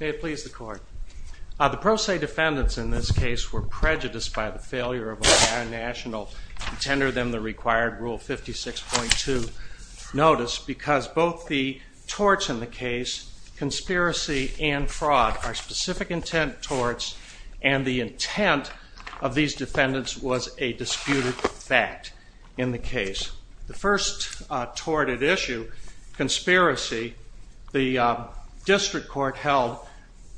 May it please the court. The pro se defendants in this case were prejudiced by the failure of Ohio National to tender them the required Rule 56.2 notice because both the torts in the case, conspiracy and fraud, are specific intent torts and the intent of these defendants was a disputed fact in the case. The first tort at issue, conspiracy, the district court held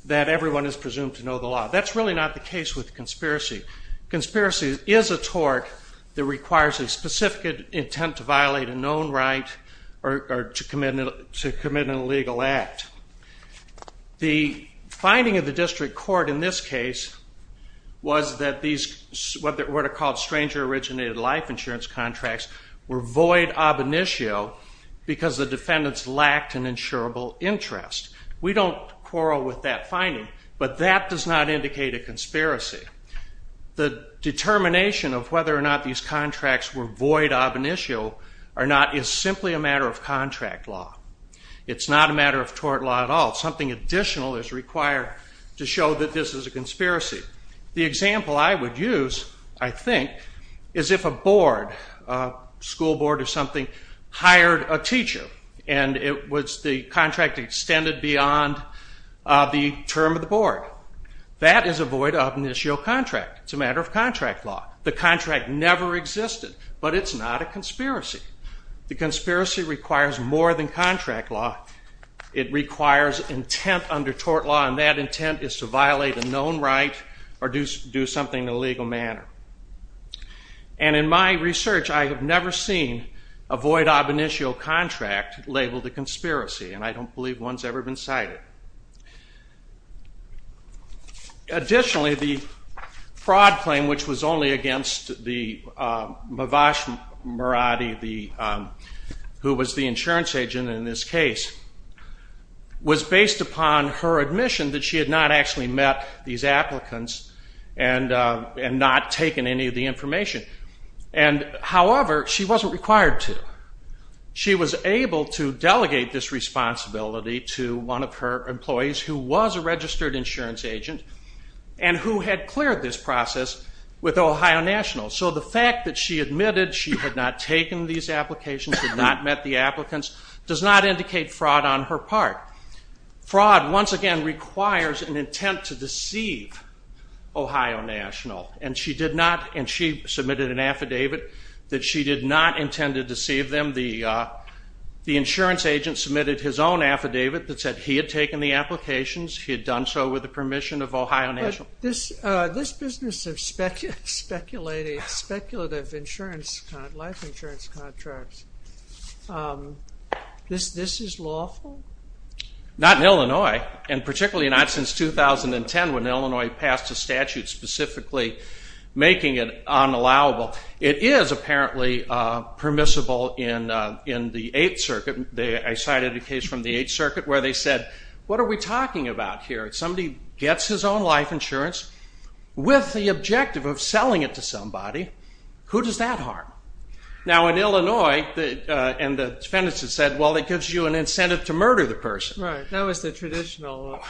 that everyone is presumed to know the law. That's really not the case with conspiracy. Conspiracy is a tort that requires a specific intent to violate a known right or to commit an illegal act. The finding of the district court in this case was that these, what are called stranger originated life insurance contracts, were void ob initio because the defendants lacked an insurable interest. We don't quarrel with that finding, but that does not indicate a conspiracy. The determination of whether or not these contracts were void ob initio or not is simply a matter of contract law. It's not a matter of tort law at all. Something additional is required to show that this is a conspiracy. The example I would use, I think, is if a board, a school board or something, hired a teacher and the contract extended beyond the term of the board. That is a void ob initio contract. It's a matter of contract law. The contract never existed, but it's not a conspiracy. The conspiracy requires more than contract law. It requires intent under tort law and that intent is to violate a known right or do something in a legal manner. And in my research, I have never seen a void ob initio contract labeled a conspiracy who was the insurance agent in this case, was based upon her admission that she had not actually met these applicants and not taken any of the information. However, she wasn't required to. She was able to delegate this responsibility to one of her employees who was a registered insurance agent and who had cleared this process with Ohio National. So the fact that she admitted she had not taken these applications, had not met the applicants, does not indicate fraud on her part. Fraud, once again, requires an intent to deceive Ohio National and she did not, and she submitted an affidavit that she did not intend to deceive them. The insurance agent submitted his own affidavit that said he had taken the applications, he had done so with the permission of Ohio National. This business of speculative life insurance contracts, this is lawful? Not in Illinois and particularly not since 2010 when Illinois passed a statute specifically making it unallowable. It is apparently permissible in the Eighth Circuit. I cited a case from the Eighth Circuit where they said, what are we talking about here? If somebody gets his own life insurance with the objective of selling it to somebody, who does that harm? Now in Illinois, and the defendants have said, well it gives you an incentive to murder the person. Right, that was the traditional law.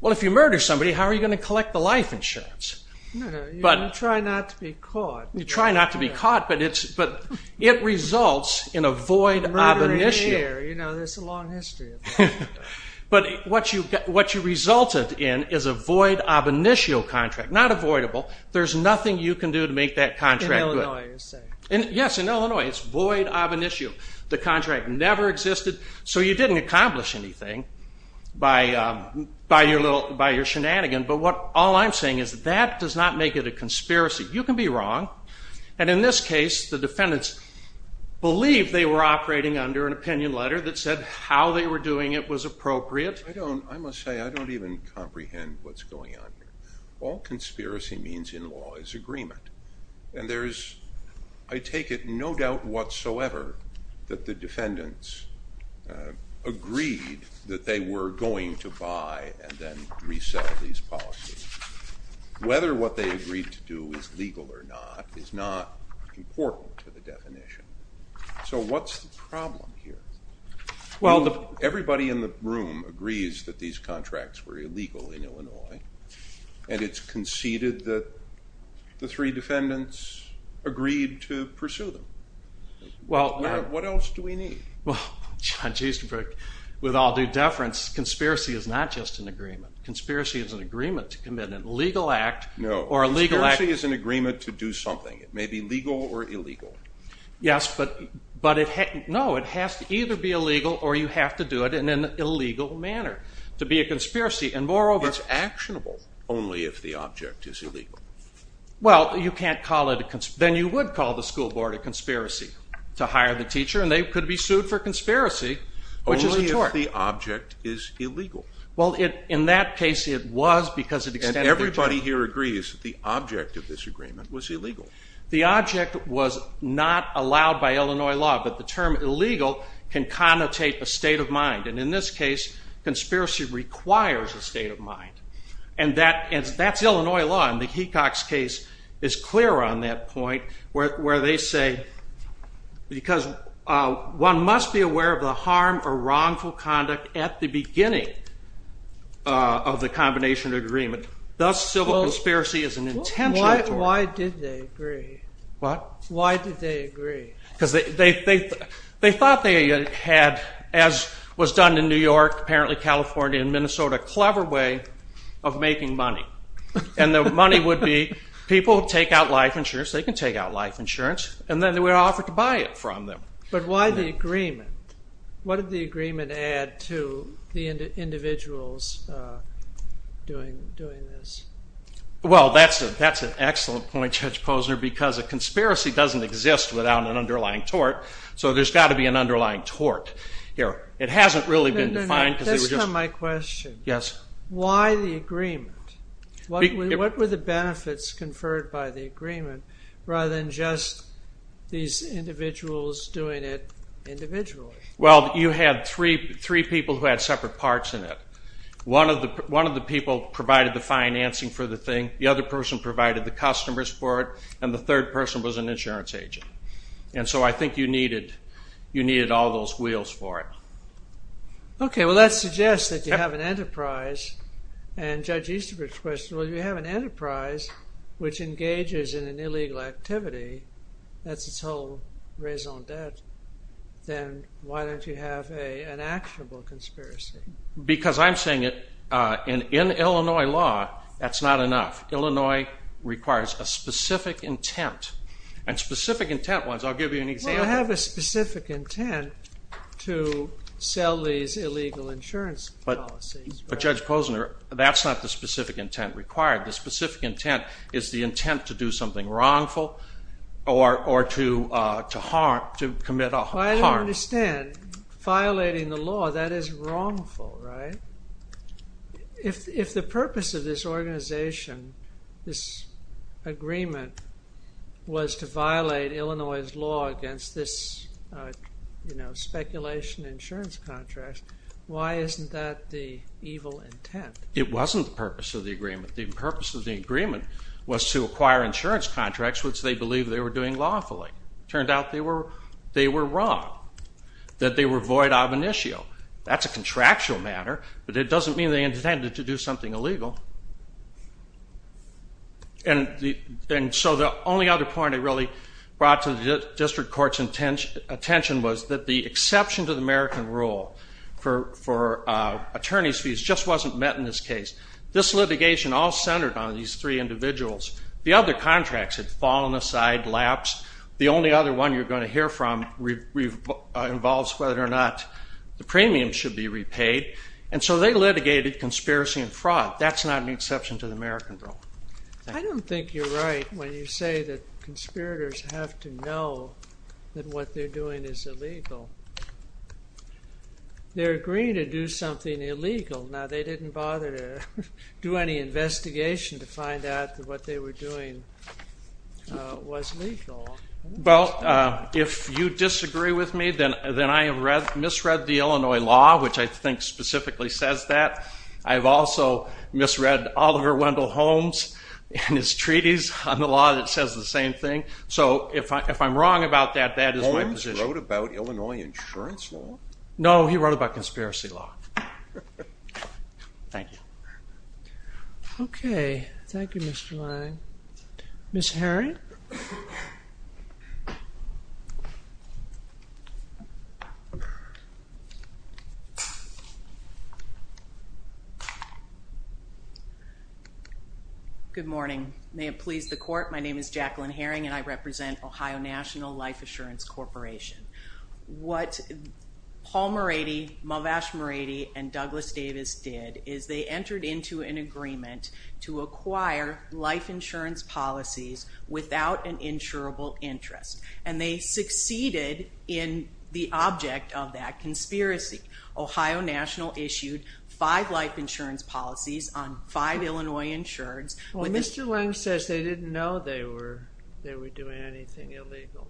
Well, if you murder somebody, how are you going to collect the life insurance? You try not to be caught. You try not to be caught, but it results in a void ab initio. Murdering here, you know, there's a long history of that. But what you resulted in is a void ab initio contract, not avoidable. There's nothing you can do to make that contract good. Yes, in Illinois, it's void ab initio. The contract never existed, so you didn't accomplish anything by your shenanigan, but all I'm saying is that does not make it a conspiracy. You can be wrong, and in this case, the defendants believed they were operating under an opinion letter that said how they were doing it was appropriate. I don't, I must say, I don't even comprehend what's going on here. All conspiracy means in law is agreement. And there's, I take it, no doubt whatsoever that the defendants agreed that they were going to buy and then resell these policies. Whether what they agreed to do is legal or not is not important to the definition. So what's the problem here? Everybody in the room agrees that these contracts were illegal in Illinois, and it's conceded that the three defendants agreed to pursue them. What else do we need? Well, Judge Easterbrook, with all due deference, conspiracy is not just an agreement. Conspiracy is an agreement to commit an illegal act. No, conspiracy is an agreement to do something. It may be legal or illegal. Yes, but it, no, it has to either be illegal or you have to do it in an illegal manner. To be a conspiracy, and moreover- It's actionable only if the object is illegal. Well, you can't call it a, then you would call the school board a conspiracy to hire the teacher, and they could be sued for conspiracy, which is a tort. Only if the object is illegal. Well, in that case, it was because it extended- And everybody here agrees that the object of this agreement was illegal. The object was not allowed by Illinois law, but the term illegal can connotate a state of mind, and in this case, conspiracy requires a state of mind. And that's Illinois law, and the Hecox case is clear on that point, where they say, because one must be aware of the harm or wrongful conduct at the beginning of the combination agreement. Thus, civil conspiracy is an intention. Why did they agree? What? Why did they agree? Because they thought they had, as was done in New York, apparently California, and Minnesota, a clever way of making money. And the money would be, people take out life insurance, they can take out life insurance, and then they were offered to buy it from them. But why the agreement? What did the agreement add to the individuals doing this? Well, that's an excellent point, Judge Posner, because a conspiracy doesn't exist without an underlying tort, so there's got to be an underlying tort here. It hasn't really been defined because they were just- This is not my question. Yes. Why the agreement? What were the benefits conferred by the agreement, rather than just these individuals doing it individually? Well, you had three people who had separate parts in it. One of the people provided the financing for the thing, the other person provided the customers for it, and the third person was an insurance agent. And so I think you needed all those wheels for it. Okay, well that suggests that you have an enterprise, and Judge Easterbrook's question was, you have an enterprise which engages in an illegal activity, that's its whole raison d'etre, then why don't you have an actionable conspiracy? Because I'm saying in Illinois law, that's not enough. Illinois requires a specific intent, and specific intent ones, I'll give you an example. Well, I have a specific intent to sell these illegal insurance policies. But, Judge Posner, that's not the specific intent required. The specific intent is the intent to do something wrongful or to harm, to commit a harm. Well, I don't understand. Violating the law, that is wrongful, right? If the purpose of this organization, this agreement, was to violate Illinois' law against this speculation insurance contract, why isn't that the evil intent? It wasn't the purpose of the agreement. The purpose of the agreement was to acquire insurance contracts which they believed they were doing lawfully. It turned out they were wrong, that they were void of an issue. That's a contractual matter, but it doesn't mean they intended to do something illegal. And so the only other point I really brought to the district court's attention was that the exception to the American rule for attorney's fees just wasn't met in this case. This litigation all centered on these three individuals. The other contracts had fallen aside, lapsed. The only other one you're going to hear from involves whether or not the premium should be repaid. And so they litigated conspiracy and fraud. That's not an exception to the American rule. I don't think you're right when you say that conspirators have to know that what they're doing is illegal. They're agreeing to do something illegal. Now, they didn't bother to do any investigation to find out that what they were doing was legal. Well, if you disagree with me, then I have misread the Illinois law, which I think specifically says that. I have also misread Oliver Wendell Holmes and his treaties on the law that says the same thing. So if I'm wrong about that, that is my position. Holmes wrote about Illinois insurance law? No, he wrote about conspiracy law. Thank you. Okay. Thank you, Mr. Lang. Ms. Herring? Good morning. May it please the Court, my name is Jacqueline Herring, and I represent Ohio National Life Assurance Corporation. What Paul Marady, Mavash Marady, and Douglas Davis did is they entered into an agreement to acquire life insurance policies without an insurable interest, and they succeeded in the object of that conspiracy. Ohio National issued five life insurance policies on five Illinois insureds. Well, Mr. Lang says they didn't know they were doing anything illegal.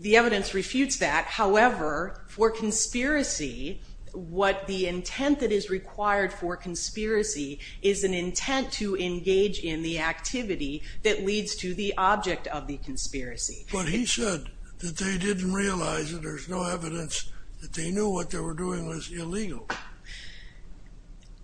The evidence refutes that. However, for conspiracy, what the intent that is required for conspiracy is an intent to engage in the activity that leads to the object of the conspiracy. But he said that they didn't realize that there's no evidence that they knew what they were doing was illegal.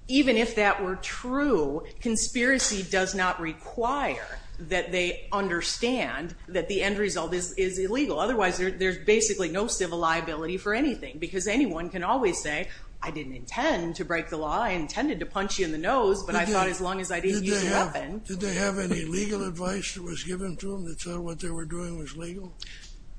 Even if that were true, conspiracy does not require that they understand that the end result is illegal. Otherwise, there's basically no civil liability for anything because anyone can always say, I didn't intend to break the law, I intended to punch you in the nose, but I thought as long as I didn't use a weapon... Did they have any legal advice that was given to them that said what they were doing was legal?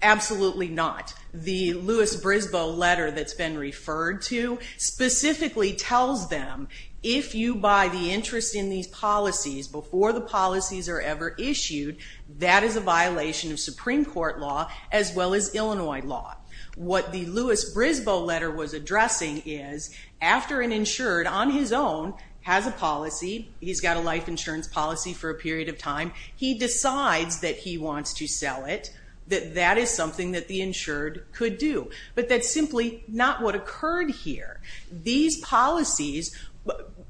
Absolutely not. The Louis Brisbane letter that's been referred to specifically tells them, if you buy the interest in these policies before the policies are ever issued, that is a violation of Supreme Court law as well as Illinois law. What the Louis Brisbane letter was addressing is, after an insured on his own has a policy, he's got a life insurance policy for a period of time, he decides that he wants to sell it, that that is something that the insured could do. But that's simply not what occurred here. These policies,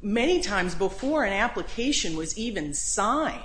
many times before an application was even signed,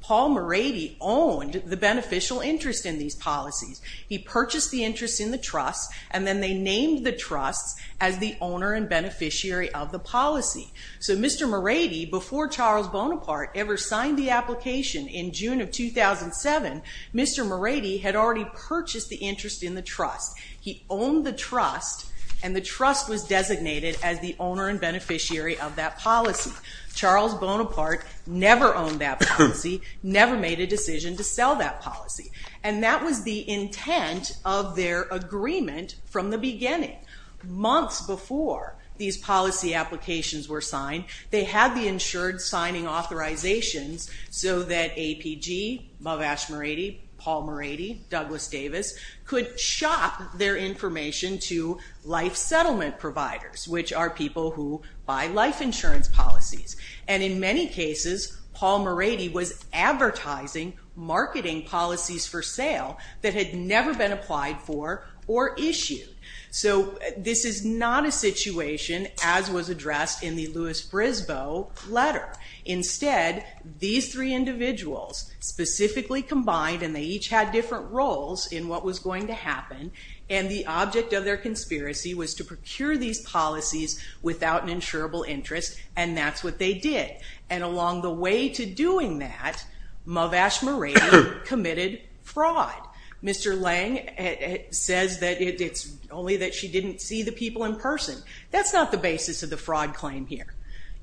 Paul Marady owned the beneficial interest in these policies. He purchased the interest in the trust and then they named the trust as the owner and beneficiary of the policy. So Mr. Marady, before Charles Bonaparte ever signed the application in June of 2007, Mr. Marady had already purchased the interest in the trust. He owned the trust and the trust was designated as the owner and beneficiary of that policy. Charles Bonaparte never owned that policy, never made a decision to sell that policy, and that was the intent of their agreement from the beginning. Months before these policy applications were signed, they had the insured signing authorizations so that APG, Mavash Marady, Paul Marady, Douglas Davis, could shop their information to life settlement providers, which are people who buy life insurance policies. And in many cases, Paul Marady was advertising marketing policies for sale that had never been applied for or issued. So this is not a situation, as was addressed in the Louis Frisboe letter. Instead, these three individuals specifically combined, and they each had different roles in what was going to happen, and the object of their conspiracy was to procure these policies without an insurable interest, and that's what they did. And along the way to doing that, Mavash Marady committed fraud. Mr. Lange says that it's only that she didn't see the people in person. That's not the basis of the fraud claim here.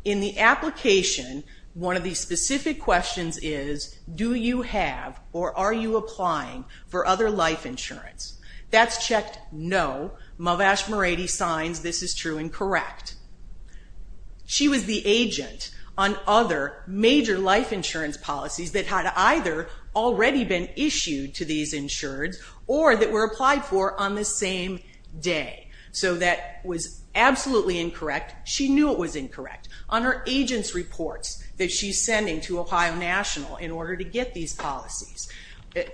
In the application, one of the specific questions is, do you have or are you applying for other life insurance? That's checked no. Mavash Marady signs this is true and correct. She was the agent on other major life insurance policies that had either already been issued to these insureds or that were applied for on the same day. So that was absolutely incorrect. She knew it was incorrect. On her agent's reports that she's sending to Ohio National in order to get these policies,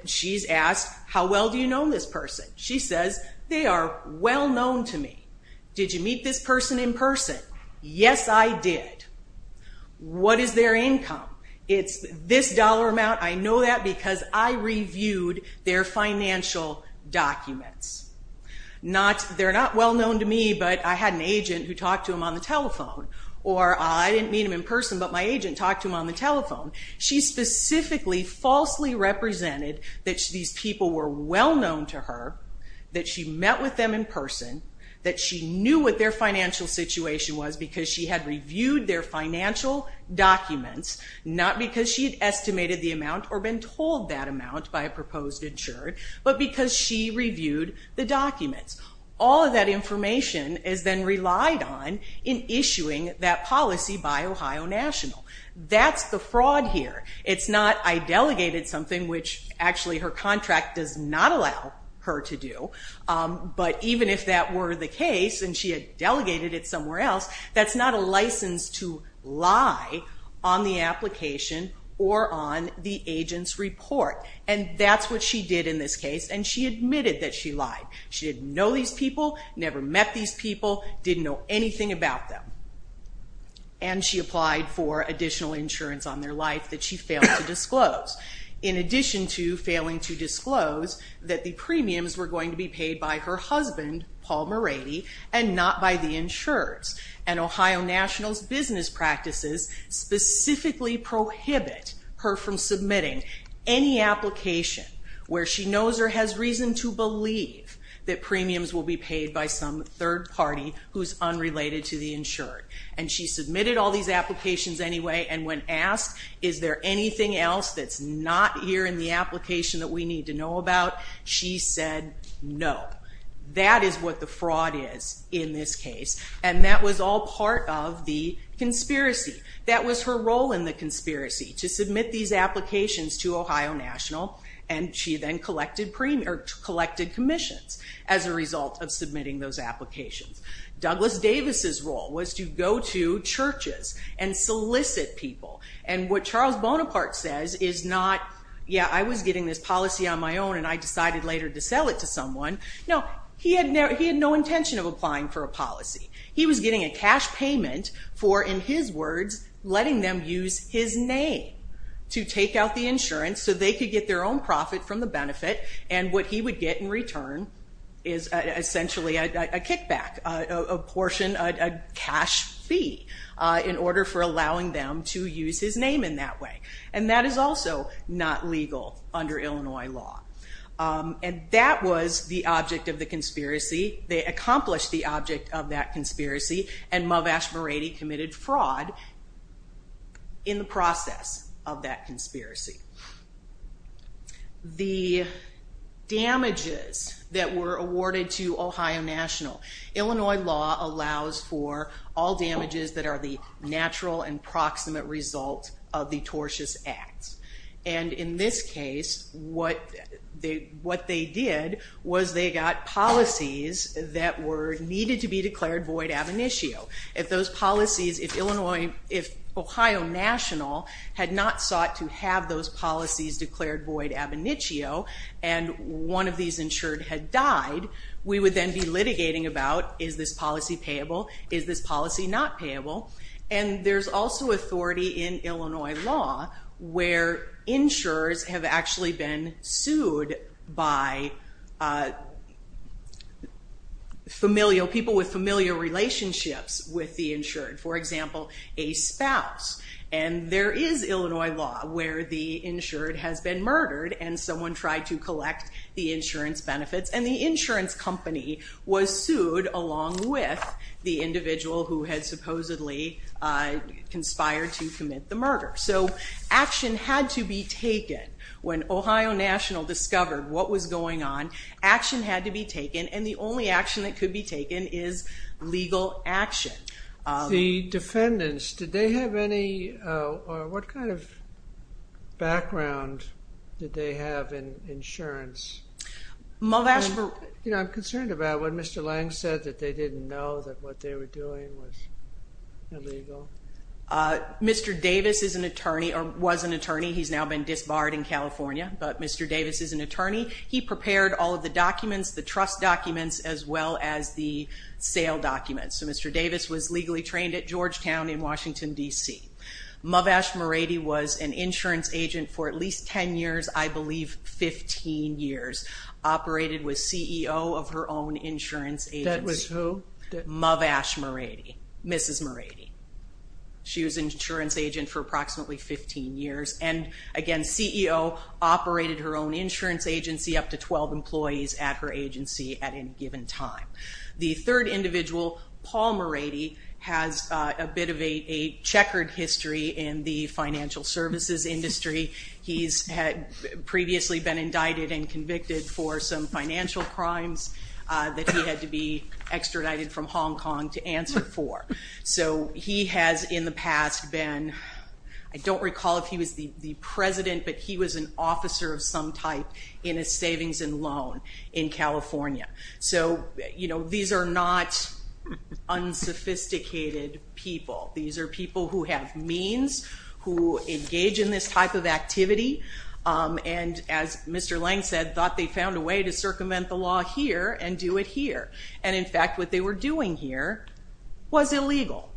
she's asked, how well do you know this person? She says, they are well known to me. Did you meet this person in person? Yes, I did. What is their income? It's this dollar amount. I know that because I reviewed their financial documents. They're not well known to me, but I had an agent who talked to them on the telephone. Or I didn't meet them in person, but my agent talked to them on the telephone. She specifically falsely represented that these people were well known to her, that she met with them in person, that she knew what their financial situation was because she had reviewed their financial documents, not because she had estimated the amount but because she reviewed the documents. All of that information is then relied on in issuing that policy by Ohio National. That's the fraud here. It's not I delegated something, which actually her contract does not allow her to do, but even if that were the case and she had delegated it somewhere else, that's not a license to lie on the application or on the agent's report. And that's what she did in this case, and she admitted that she lied. She didn't know these people, never met these people, didn't know anything about them, and she applied for additional insurance on their life that she failed to disclose. In addition to failing to disclose that the premiums were going to be paid by her husband, Paul Moready, and not by the insurers, and Ohio National's business practices specifically prohibit her from submitting any application where she knows or has reason to believe that premiums will be paid by some third party who's unrelated to the insured. And she submitted all these applications anyway, and when asked, is there anything else that's not here in the application that we need to know about, she said no. That is what the fraud is in this case, and that was all part of the conspiracy. That was her role in the conspiracy, to submit these applications to Ohio National, and she then collected commissions as a result of submitting those applications. Douglas Davis's role was to go to churches and solicit people, and what Charles Bonaparte says is not, yeah, I was getting this policy on my own and I decided later to sell it to someone. No, he had no intention of applying for a policy. He was getting a cash payment for, in his words, letting them use his name to take out the insurance so they could get their own profit from the benefit, and what he would get in return is essentially a kickback, a portion, a cash fee, in order for allowing them to use his name in that way. And that is also not legal under Illinois law. And that was the object of the conspiracy. They accomplished the object of that conspiracy, and Mav Ashbery committed fraud in the process of that conspiracy. The damages that were awarded to Ohio National. Illinois law allows for all damages that are the natural and proximate result of the tortious act. And in this case, what they did was they got policies that were needed to be declared void ab initio. If Ohio National had not sought to have those policies declared void ab initio and one of these insured had died, we would then be litigating about, is this policy payable, is this policy not payable? And there's also authority in Illinois law where insurers have actually been sued by people with familiar relationships with the insured. For example, a spouse. And there is Illinois law where the insured has been murdered and someone tried to collect the insurance benefits and the insurance company was sued along with the individual who had supposedly conspired to commit the murder. So action had to be taken when Ohio National discovered what was going on. Action had to be taken and the only action that could be taken is legal action. The defendants, did they have any... What kind of background did they have in insurance? I'm concerned about what Mr. Lang said, that they didn't know that what they were doing was illegal. Mr. Davis is an attorney, or was an attorney. He's now been disbarred in California, but Mr. Davis is an attorney. He prepared all of the documents, the trust documents, as well as the sale documents. So Mr. Davis was legally trained at Georgetown in Washington, D.C. Muvvash Murady was an insurance agent for at least 10 years, I believe 15 years, operated with CEO of her own insurance agency. That was who? Muvvash Murady, Mrs. Murady. She was an insurance agent for approximately 15 years, and again, CEO, operated her own insurance agency, up to 12 employees at her agency at any given time. The third individual, Paul Murady, has a bit of a checkered history in the financial services industry. He's had previously been indicted and convicted for some financial crimes that he had to be extradited from Hong Kong to answer for. So he has in the past been, I don't recall if he was the president, but he was an officer of some type in a savings and loan in California. So, you know, these are not unsophisticated people. These are people who have means, who engage in this type of activity, and as Mr. Lang said, thought they found a way to circumvent the law here and do it here. And in fact, what they were doing here was illegal,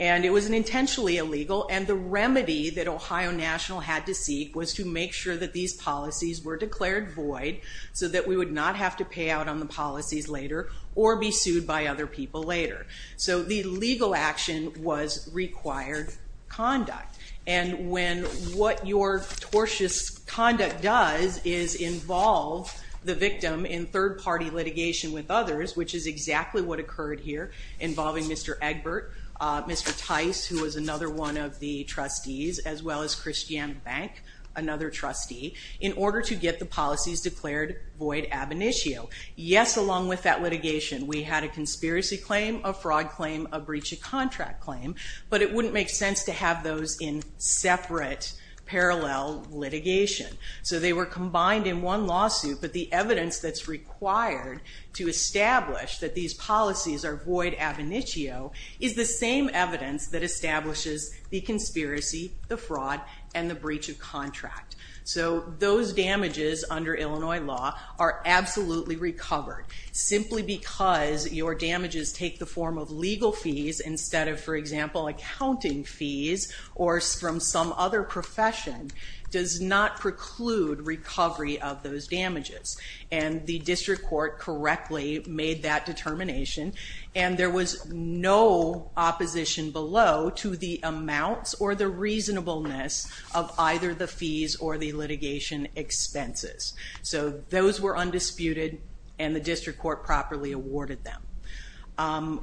and it was intentionally illegal, and the remedy that Ohio National had to seek was to make sure that these policies were declared void so that we would not have to pay out on the policies later or be sued by other people later. So the legal action was required conduct, and when what your tortious conduct does is involve the victim in third-party litigation with others, which is exactly what occurred here, involving Mr. Egbert, Mr. Tice, who was another one of the trustees, as well as Christiane Bank, another trustee, in order to get the policies declared void ab initio. Yes, along with that litigation, we had a conspiracy claim, a fraud claim, a breach of contract claim, but it wouldn't make sense to have those in separate, parallel litigation. So they were combined in one lawsuit, but the evidence that's required to establish that these policies are void ab initio is the same evidence that establishes the conspiracy, the fraud, and the breach of contract. So those damages under Illinois law are absolutely recovered. Simply because your damages take the form of legal fees instead of, for example, accounting fees or from some other profession does not preclude recovery of those damages. And the district court correctly made that determination, and there was no opposition below to the amounts or the reasonableness of either the fees or the litigation expenses. So those were undisputed, and the district court properly awarded them.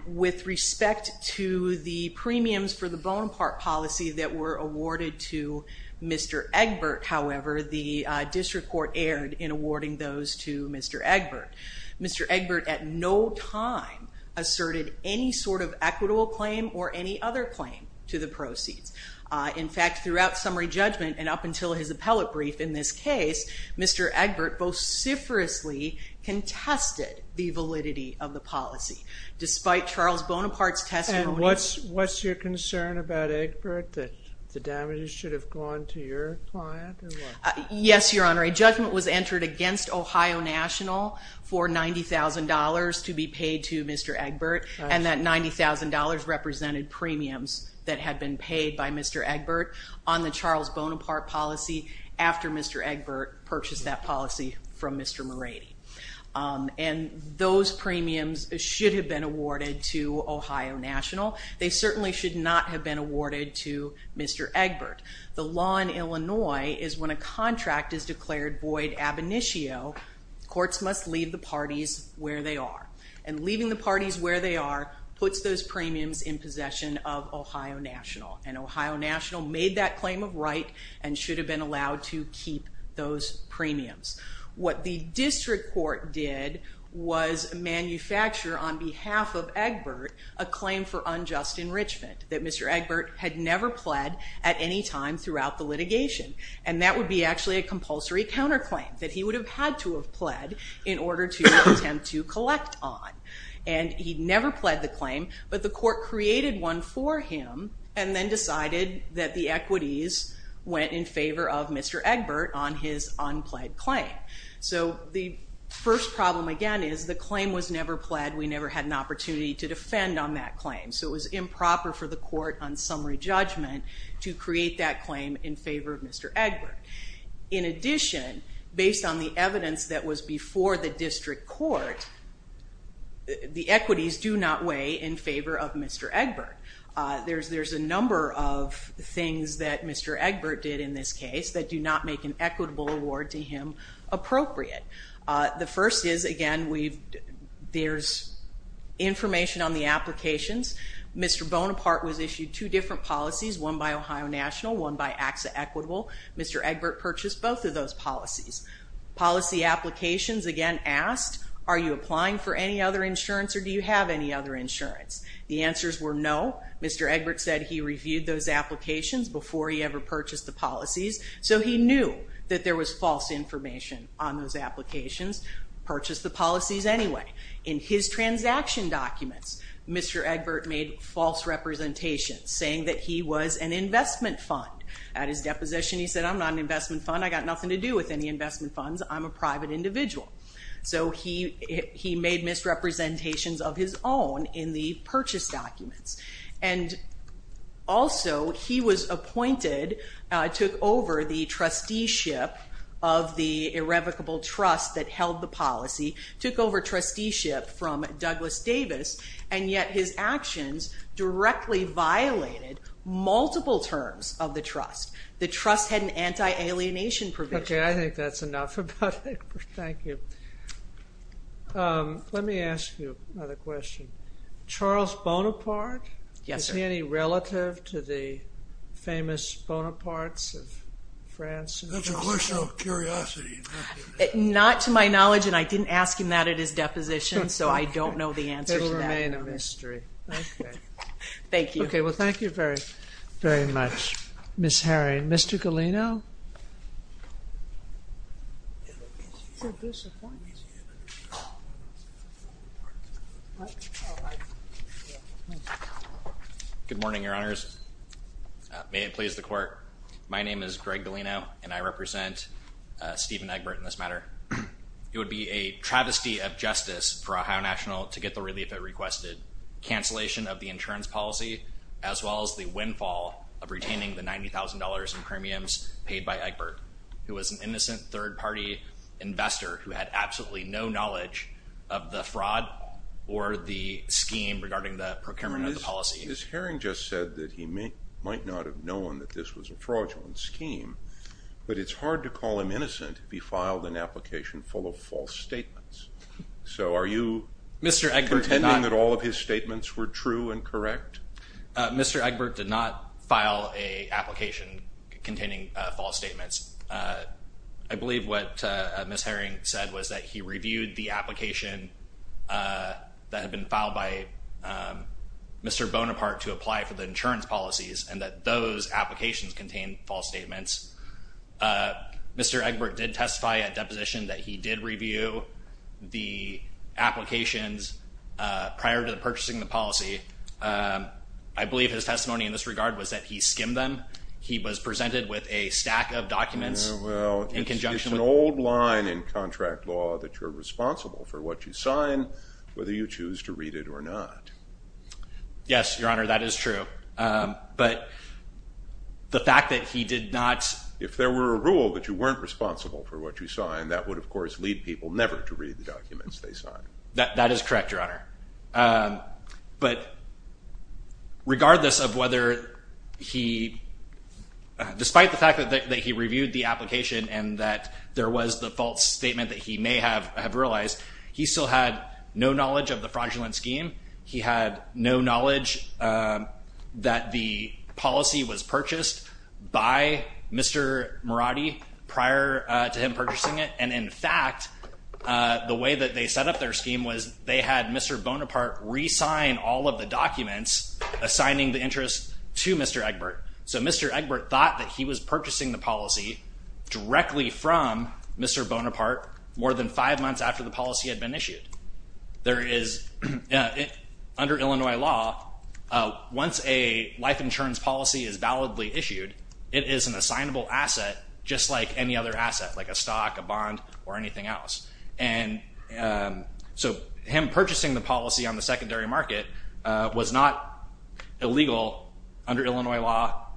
With respect to the premiums for the Bonaparte policy that were awarded to Mr. Egbert, however, the district court erred in awarding those to Mr. Egbert. Mr. Egbert at no time asserted any sort of equitable claim or any other claim to the proceeds. In fact, throughout summary judgment and up until his appellate brief in this case, Mr. Egbert vociferously contested the validity of the policy. Despite Charles Bonaparte's testimony... And what's your concern about Egbert, that the damages should have gone to your client? Yes, Your Honor, a judgment was entered against Ohio National for $90,000 to be paid to Mr. Egbert, and that $90,000 represented premiums that had been paid by Mr. Egbert on the Charles Bonaparte policy after Mr. Egbert purchased that policy from Mr. Moretti. And those premiums should have been awarded to Ohio National. They certainly should not have been awarded to Mr. Egbert. The law in Illinois is when a contract is declared void ab initio, courts must leave the parties where they are. And leaving the parties where they are puts those premiums in possession of Ohio National, and Ohio National made that claim of right and should have been allowed to keep those premiums. What the district court did was manufacture, on behalf of Egbert, a claim for unjust enrichment, that Mr. Egbert had never pled at any time throughout the litigation. And that would be actually a compulsory counterclaim that he would have had to have pled in order to attempt to collect on. And he never pled the claim, but the court created one for him and then decided that the equities went in favor of Mr. Egbert on his unpled claim. So the first problem, again, is the claim was never pled. We never had an opportunity to defend on that claim. So it was improper for the court on summary judgment to create that claim in favor of Mr. Egbert. In addition, based on the evidence that was before the district court, the equities do not weigh in favor of Mr. Egbert. There's a number of things that Mr. Egbert did in this case that do not make an equitable award to him appropriate. The first is, again, there's information on the applications. Mr. Bonaparte was issued two different policies, one by Ohio National, one by AXA Equitable. Mr. Egbert purchased both of those policies. Policy applications, again, asked, are you applying for any other insurance or do you have any other insurance? The answers were no. Mr. Egbert said he reviewed those applications before he ever purchased the policies, so he knew that there was false information on those applications. Purchased the policies anyway. In his transaction documents, Mr. Egbert made false representations, saying that he was an investment fund. At his deposition, he said, I'm not an investment fund. I've got nothing to do with any investment funds. I'm a private individual. So he made misrepresentations of his own in the purchase documents. And also, he was appointed, took over the trusteeship of the irrevocable trust that held the policy, took over trusteeship from Douglas Davis, and yet his actions directly violated multiple terms of the trust. The trust had an anti-alienation provision. Okay, I think that's enough about Egbert. Thank you. Let me ask you another question. Charles Bonaparte? Yes, sir. Is he any relative to the famous Bonapartes of France? That's a question of curiosity. Not to my knowledge, and I didn't ask him that at his deposition, so I don't know the answer to that. It'll remain a mystery. Thank you. Okay, well, thank you very, very much, Ms. Herring. Okay, Mr. Galeno? Good morning, Your Honors. May it please the Court. My name is Greg Galeno, and I represent Stephen Egbert in this matter. It would be a travesty of justice for Ohio National to get the relief it requested, cancellation of the insurance policy, as well as the windfall of retaining the $90,000 in premiums paid by Egbert, who was an innocent third-party investor who had absolutely no knowledge of the fraud or the scheme regarding the procurement of the policy. Ms. Herring just said that he might not have known that this was a fraudulent scheme, but it's hard to call him innocent if he filed an application full of false statements. So are you pretending that all of his statements were true and correct? Mr. Egbert did not file an application containing false statements. I believe what Ms. Herring said was that he reviewed the application that had been filed by Mr. Bonaparte to apply for the insurance policies and that those applications contained false statements. Mr. Egbert did testify at deposition that he did review the applications prior to purchasing the policy. I believe his testimony in this regard was that he skimmed them. He was presented with a stack of documents in conjunction with- It's an old line in contract law that you're responsible for what you sign whether you choose to read it or not. Yes, Your Honor, that is true. But the fact that he did not- If there were a rule that you weren't responsible for what you signed, that would, of course, lead people never to read the documents they signed. That is correct, Your Honor. But regardless of whether he- Despite the fact that he reviewed the application and that there was the false statement that he may have realized, he still had no knowledge of the fraudulent scheme. He had no knowledge that the policy was purchased by Mr. Mirati prior to him purchasing it. And, in fact, the way that they set up their scheme was they had Mr. Bonaparte re-sign all of the documents assigning the interest to Mr. Egbert. So Mr. Egbert thought that he was purchasing the policy directly from Mr. Bonaparte more than five months after the policy had been issued. There is- Under Illinois law, once a life insurance policy is validly issued, it is an assignable asset just like any other asset, like a stock, a bond, or anything else. And so him purchasing the policy on the secondary market was not illegal under Illinois law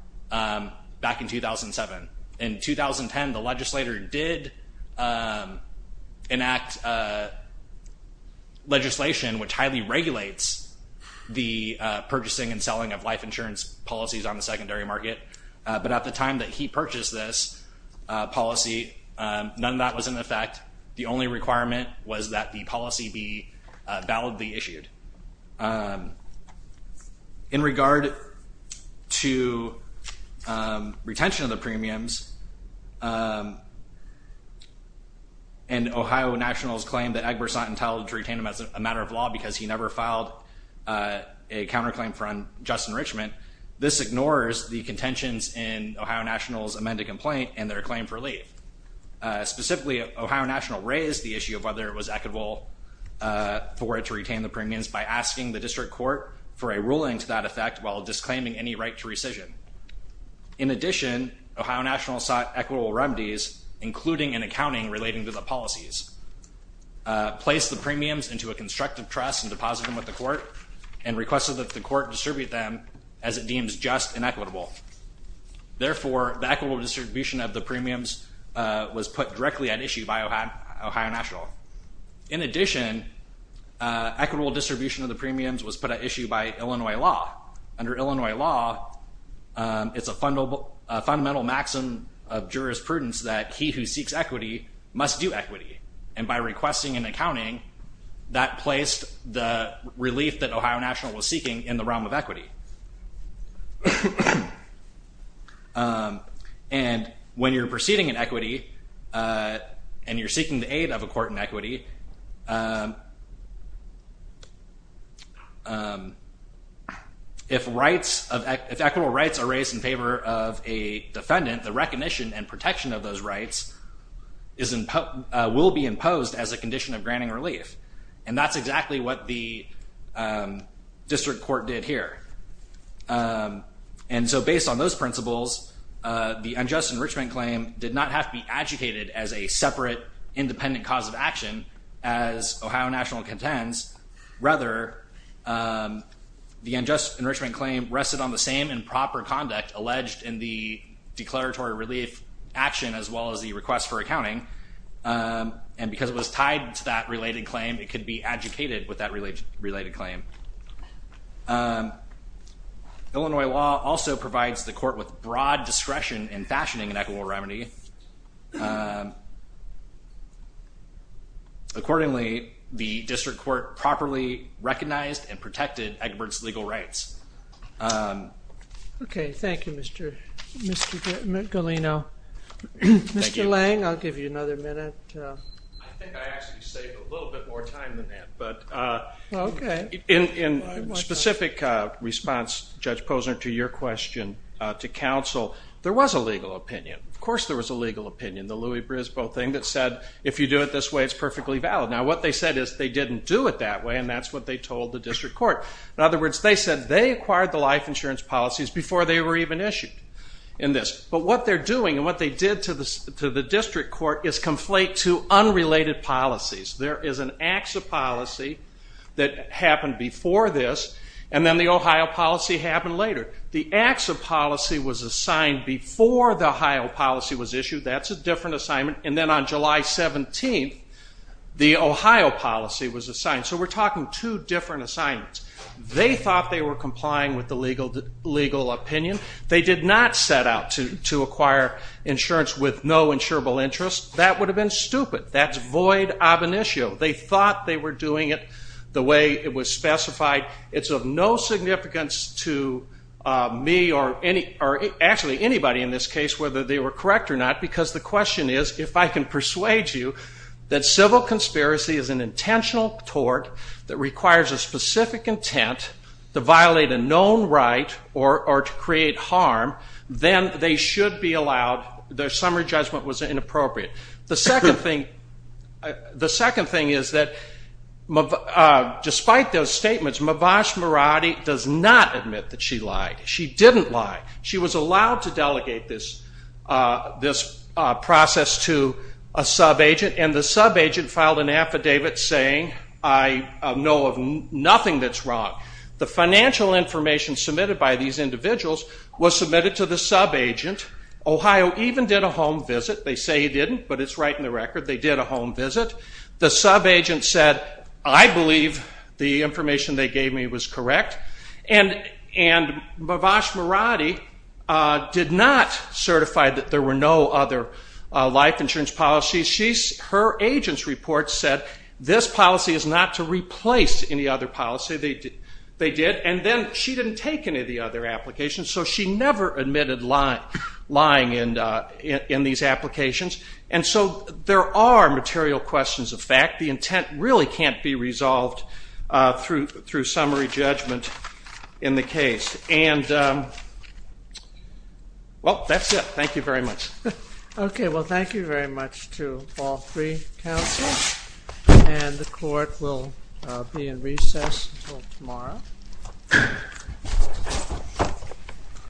back in 2007. In 2010, the legislator did enact legislation which highly regulates the purchasing and selling of life insurance policies on the secondary market. But at the time that he purchased this policy, none of that was in effect. The only requirement was that the policy be validly issued. In regard to retention of the premiums, and Ohio Nationals claimed that Egbert's not entitled to retain them as a matter of law because he never filed a counterclaim for unjust enrichment, this ignores the contentions in Ohio Nationals' amended complaint and their claim for leave. Specifically, Ohio Nationals raised the issue of whether it was equitable for it to retain the premiums by asking the district court for a ruling to that effect while disclaiming any right to rescission. In addition, Ohio Nationals sought equitable remedies, including an accounting relating to the policies, placed the premiums into a constructive trust and deposited them with the court, and requested that the court distribute them as it deems just and equitable. Therefore, the equitable distribution of the premiums was put directly at issue by Ohio Nationals. In addition, equitable distribution of the premiums was put at issue by Illinois law. Under Illinois law, it's a fundamental maxim of jurisprudence that he who seeks equity must do equity. And by requesting an accounting, that placed the relief that Ohio Nationals was seeking in the realm of equity. And when you're proceeding in equity and you're seeking the aid of a court in equity, if rights, if equitable rights are raised in favor of a defendant, the recognition and protection of those rights will be imposed as a condition of granting relief. And that's exactly what the district court did here. And so based on those principles, the unjust enrichment claim did not have to be adjudicated as a separate independent cause of action, as Ohio Nationals contends. Rather, the unjust enrichment claim rested on the same improper conduct alleged in the declaratory relief action as well as the request for accounting. And because it was tied to that related claim, it could be adjudicated with that related claim. Illinois law also provides the court with broad discretion in fashioning an equitable remedy. Accordingly, the district court properly recognized and protected Egbert's legal rights. Okay. Thank you, Mr. Galeno. Thank you. Mr. Lange, I'll give you another minute. I think I actually saved a little bit more time than that. Okay. In specific response, Judge Posner, to your question to counsel, there was a legal opinion. Of course there was a legal opinion, the Louis Brisbane thing that said, if you do it this way, it's perfectly valid. Now what they said is they didn't do it that way, and that's what they told the district court. In other words, they said they acquired the life insurance policies before they were even issued in this. But what they're doing and what they did to the district court is conflate two unrelated policies. There is an ACSA policy that happened before this, and then the Ohio policy happened later. The ACSA policy was assigned before the Ohio policy was issued. That's a different assignment. And then on July 17th, the Ohio policy was assigned. So we're talking two different assignments. They thought they were complying with the legal opinion. They did not set out to acquire insurance with no insurable interest. That would have been stupid. That's void ab initio. They thought they were doing it the way it was specified. It's of no significance to me or actually anybody in this case whether they were correct or not, because the question is, if I can persuade you that civil conspiracy is an intentional tort that requires a specific intent to violate a known right or to create harm, then they should be allowed their summary judgment was inappropriate. The second thing is that despite those statements, Mavash Maradi does not admit that she lied. She didn't lie. She was allowed to delegate this process to a subagent, and the subagent filed an affidavit saying, I know of nothing that's wrong. The financial information submitted by these individuals was submitted to the subagent. Ohio even did a home visit. They say he didn't, but it's right in the record. They did a home visit. The subagent said, I believe the information they gave me was correct. And Mavash Maradi did not certify that there were no other life insurance policies. Her agent's report said this policy is not to replace any other policy. They did. And then she didn't take any of the other applications, so she never admitted lying in these applications. And so there are material questions of fact. The intent really can't be resolved through summary judgment in the case. And, well, that's it. Thank you very much. Okay. Well, thank you very much to all three counsels, and the Court will be in recess until tomorrow.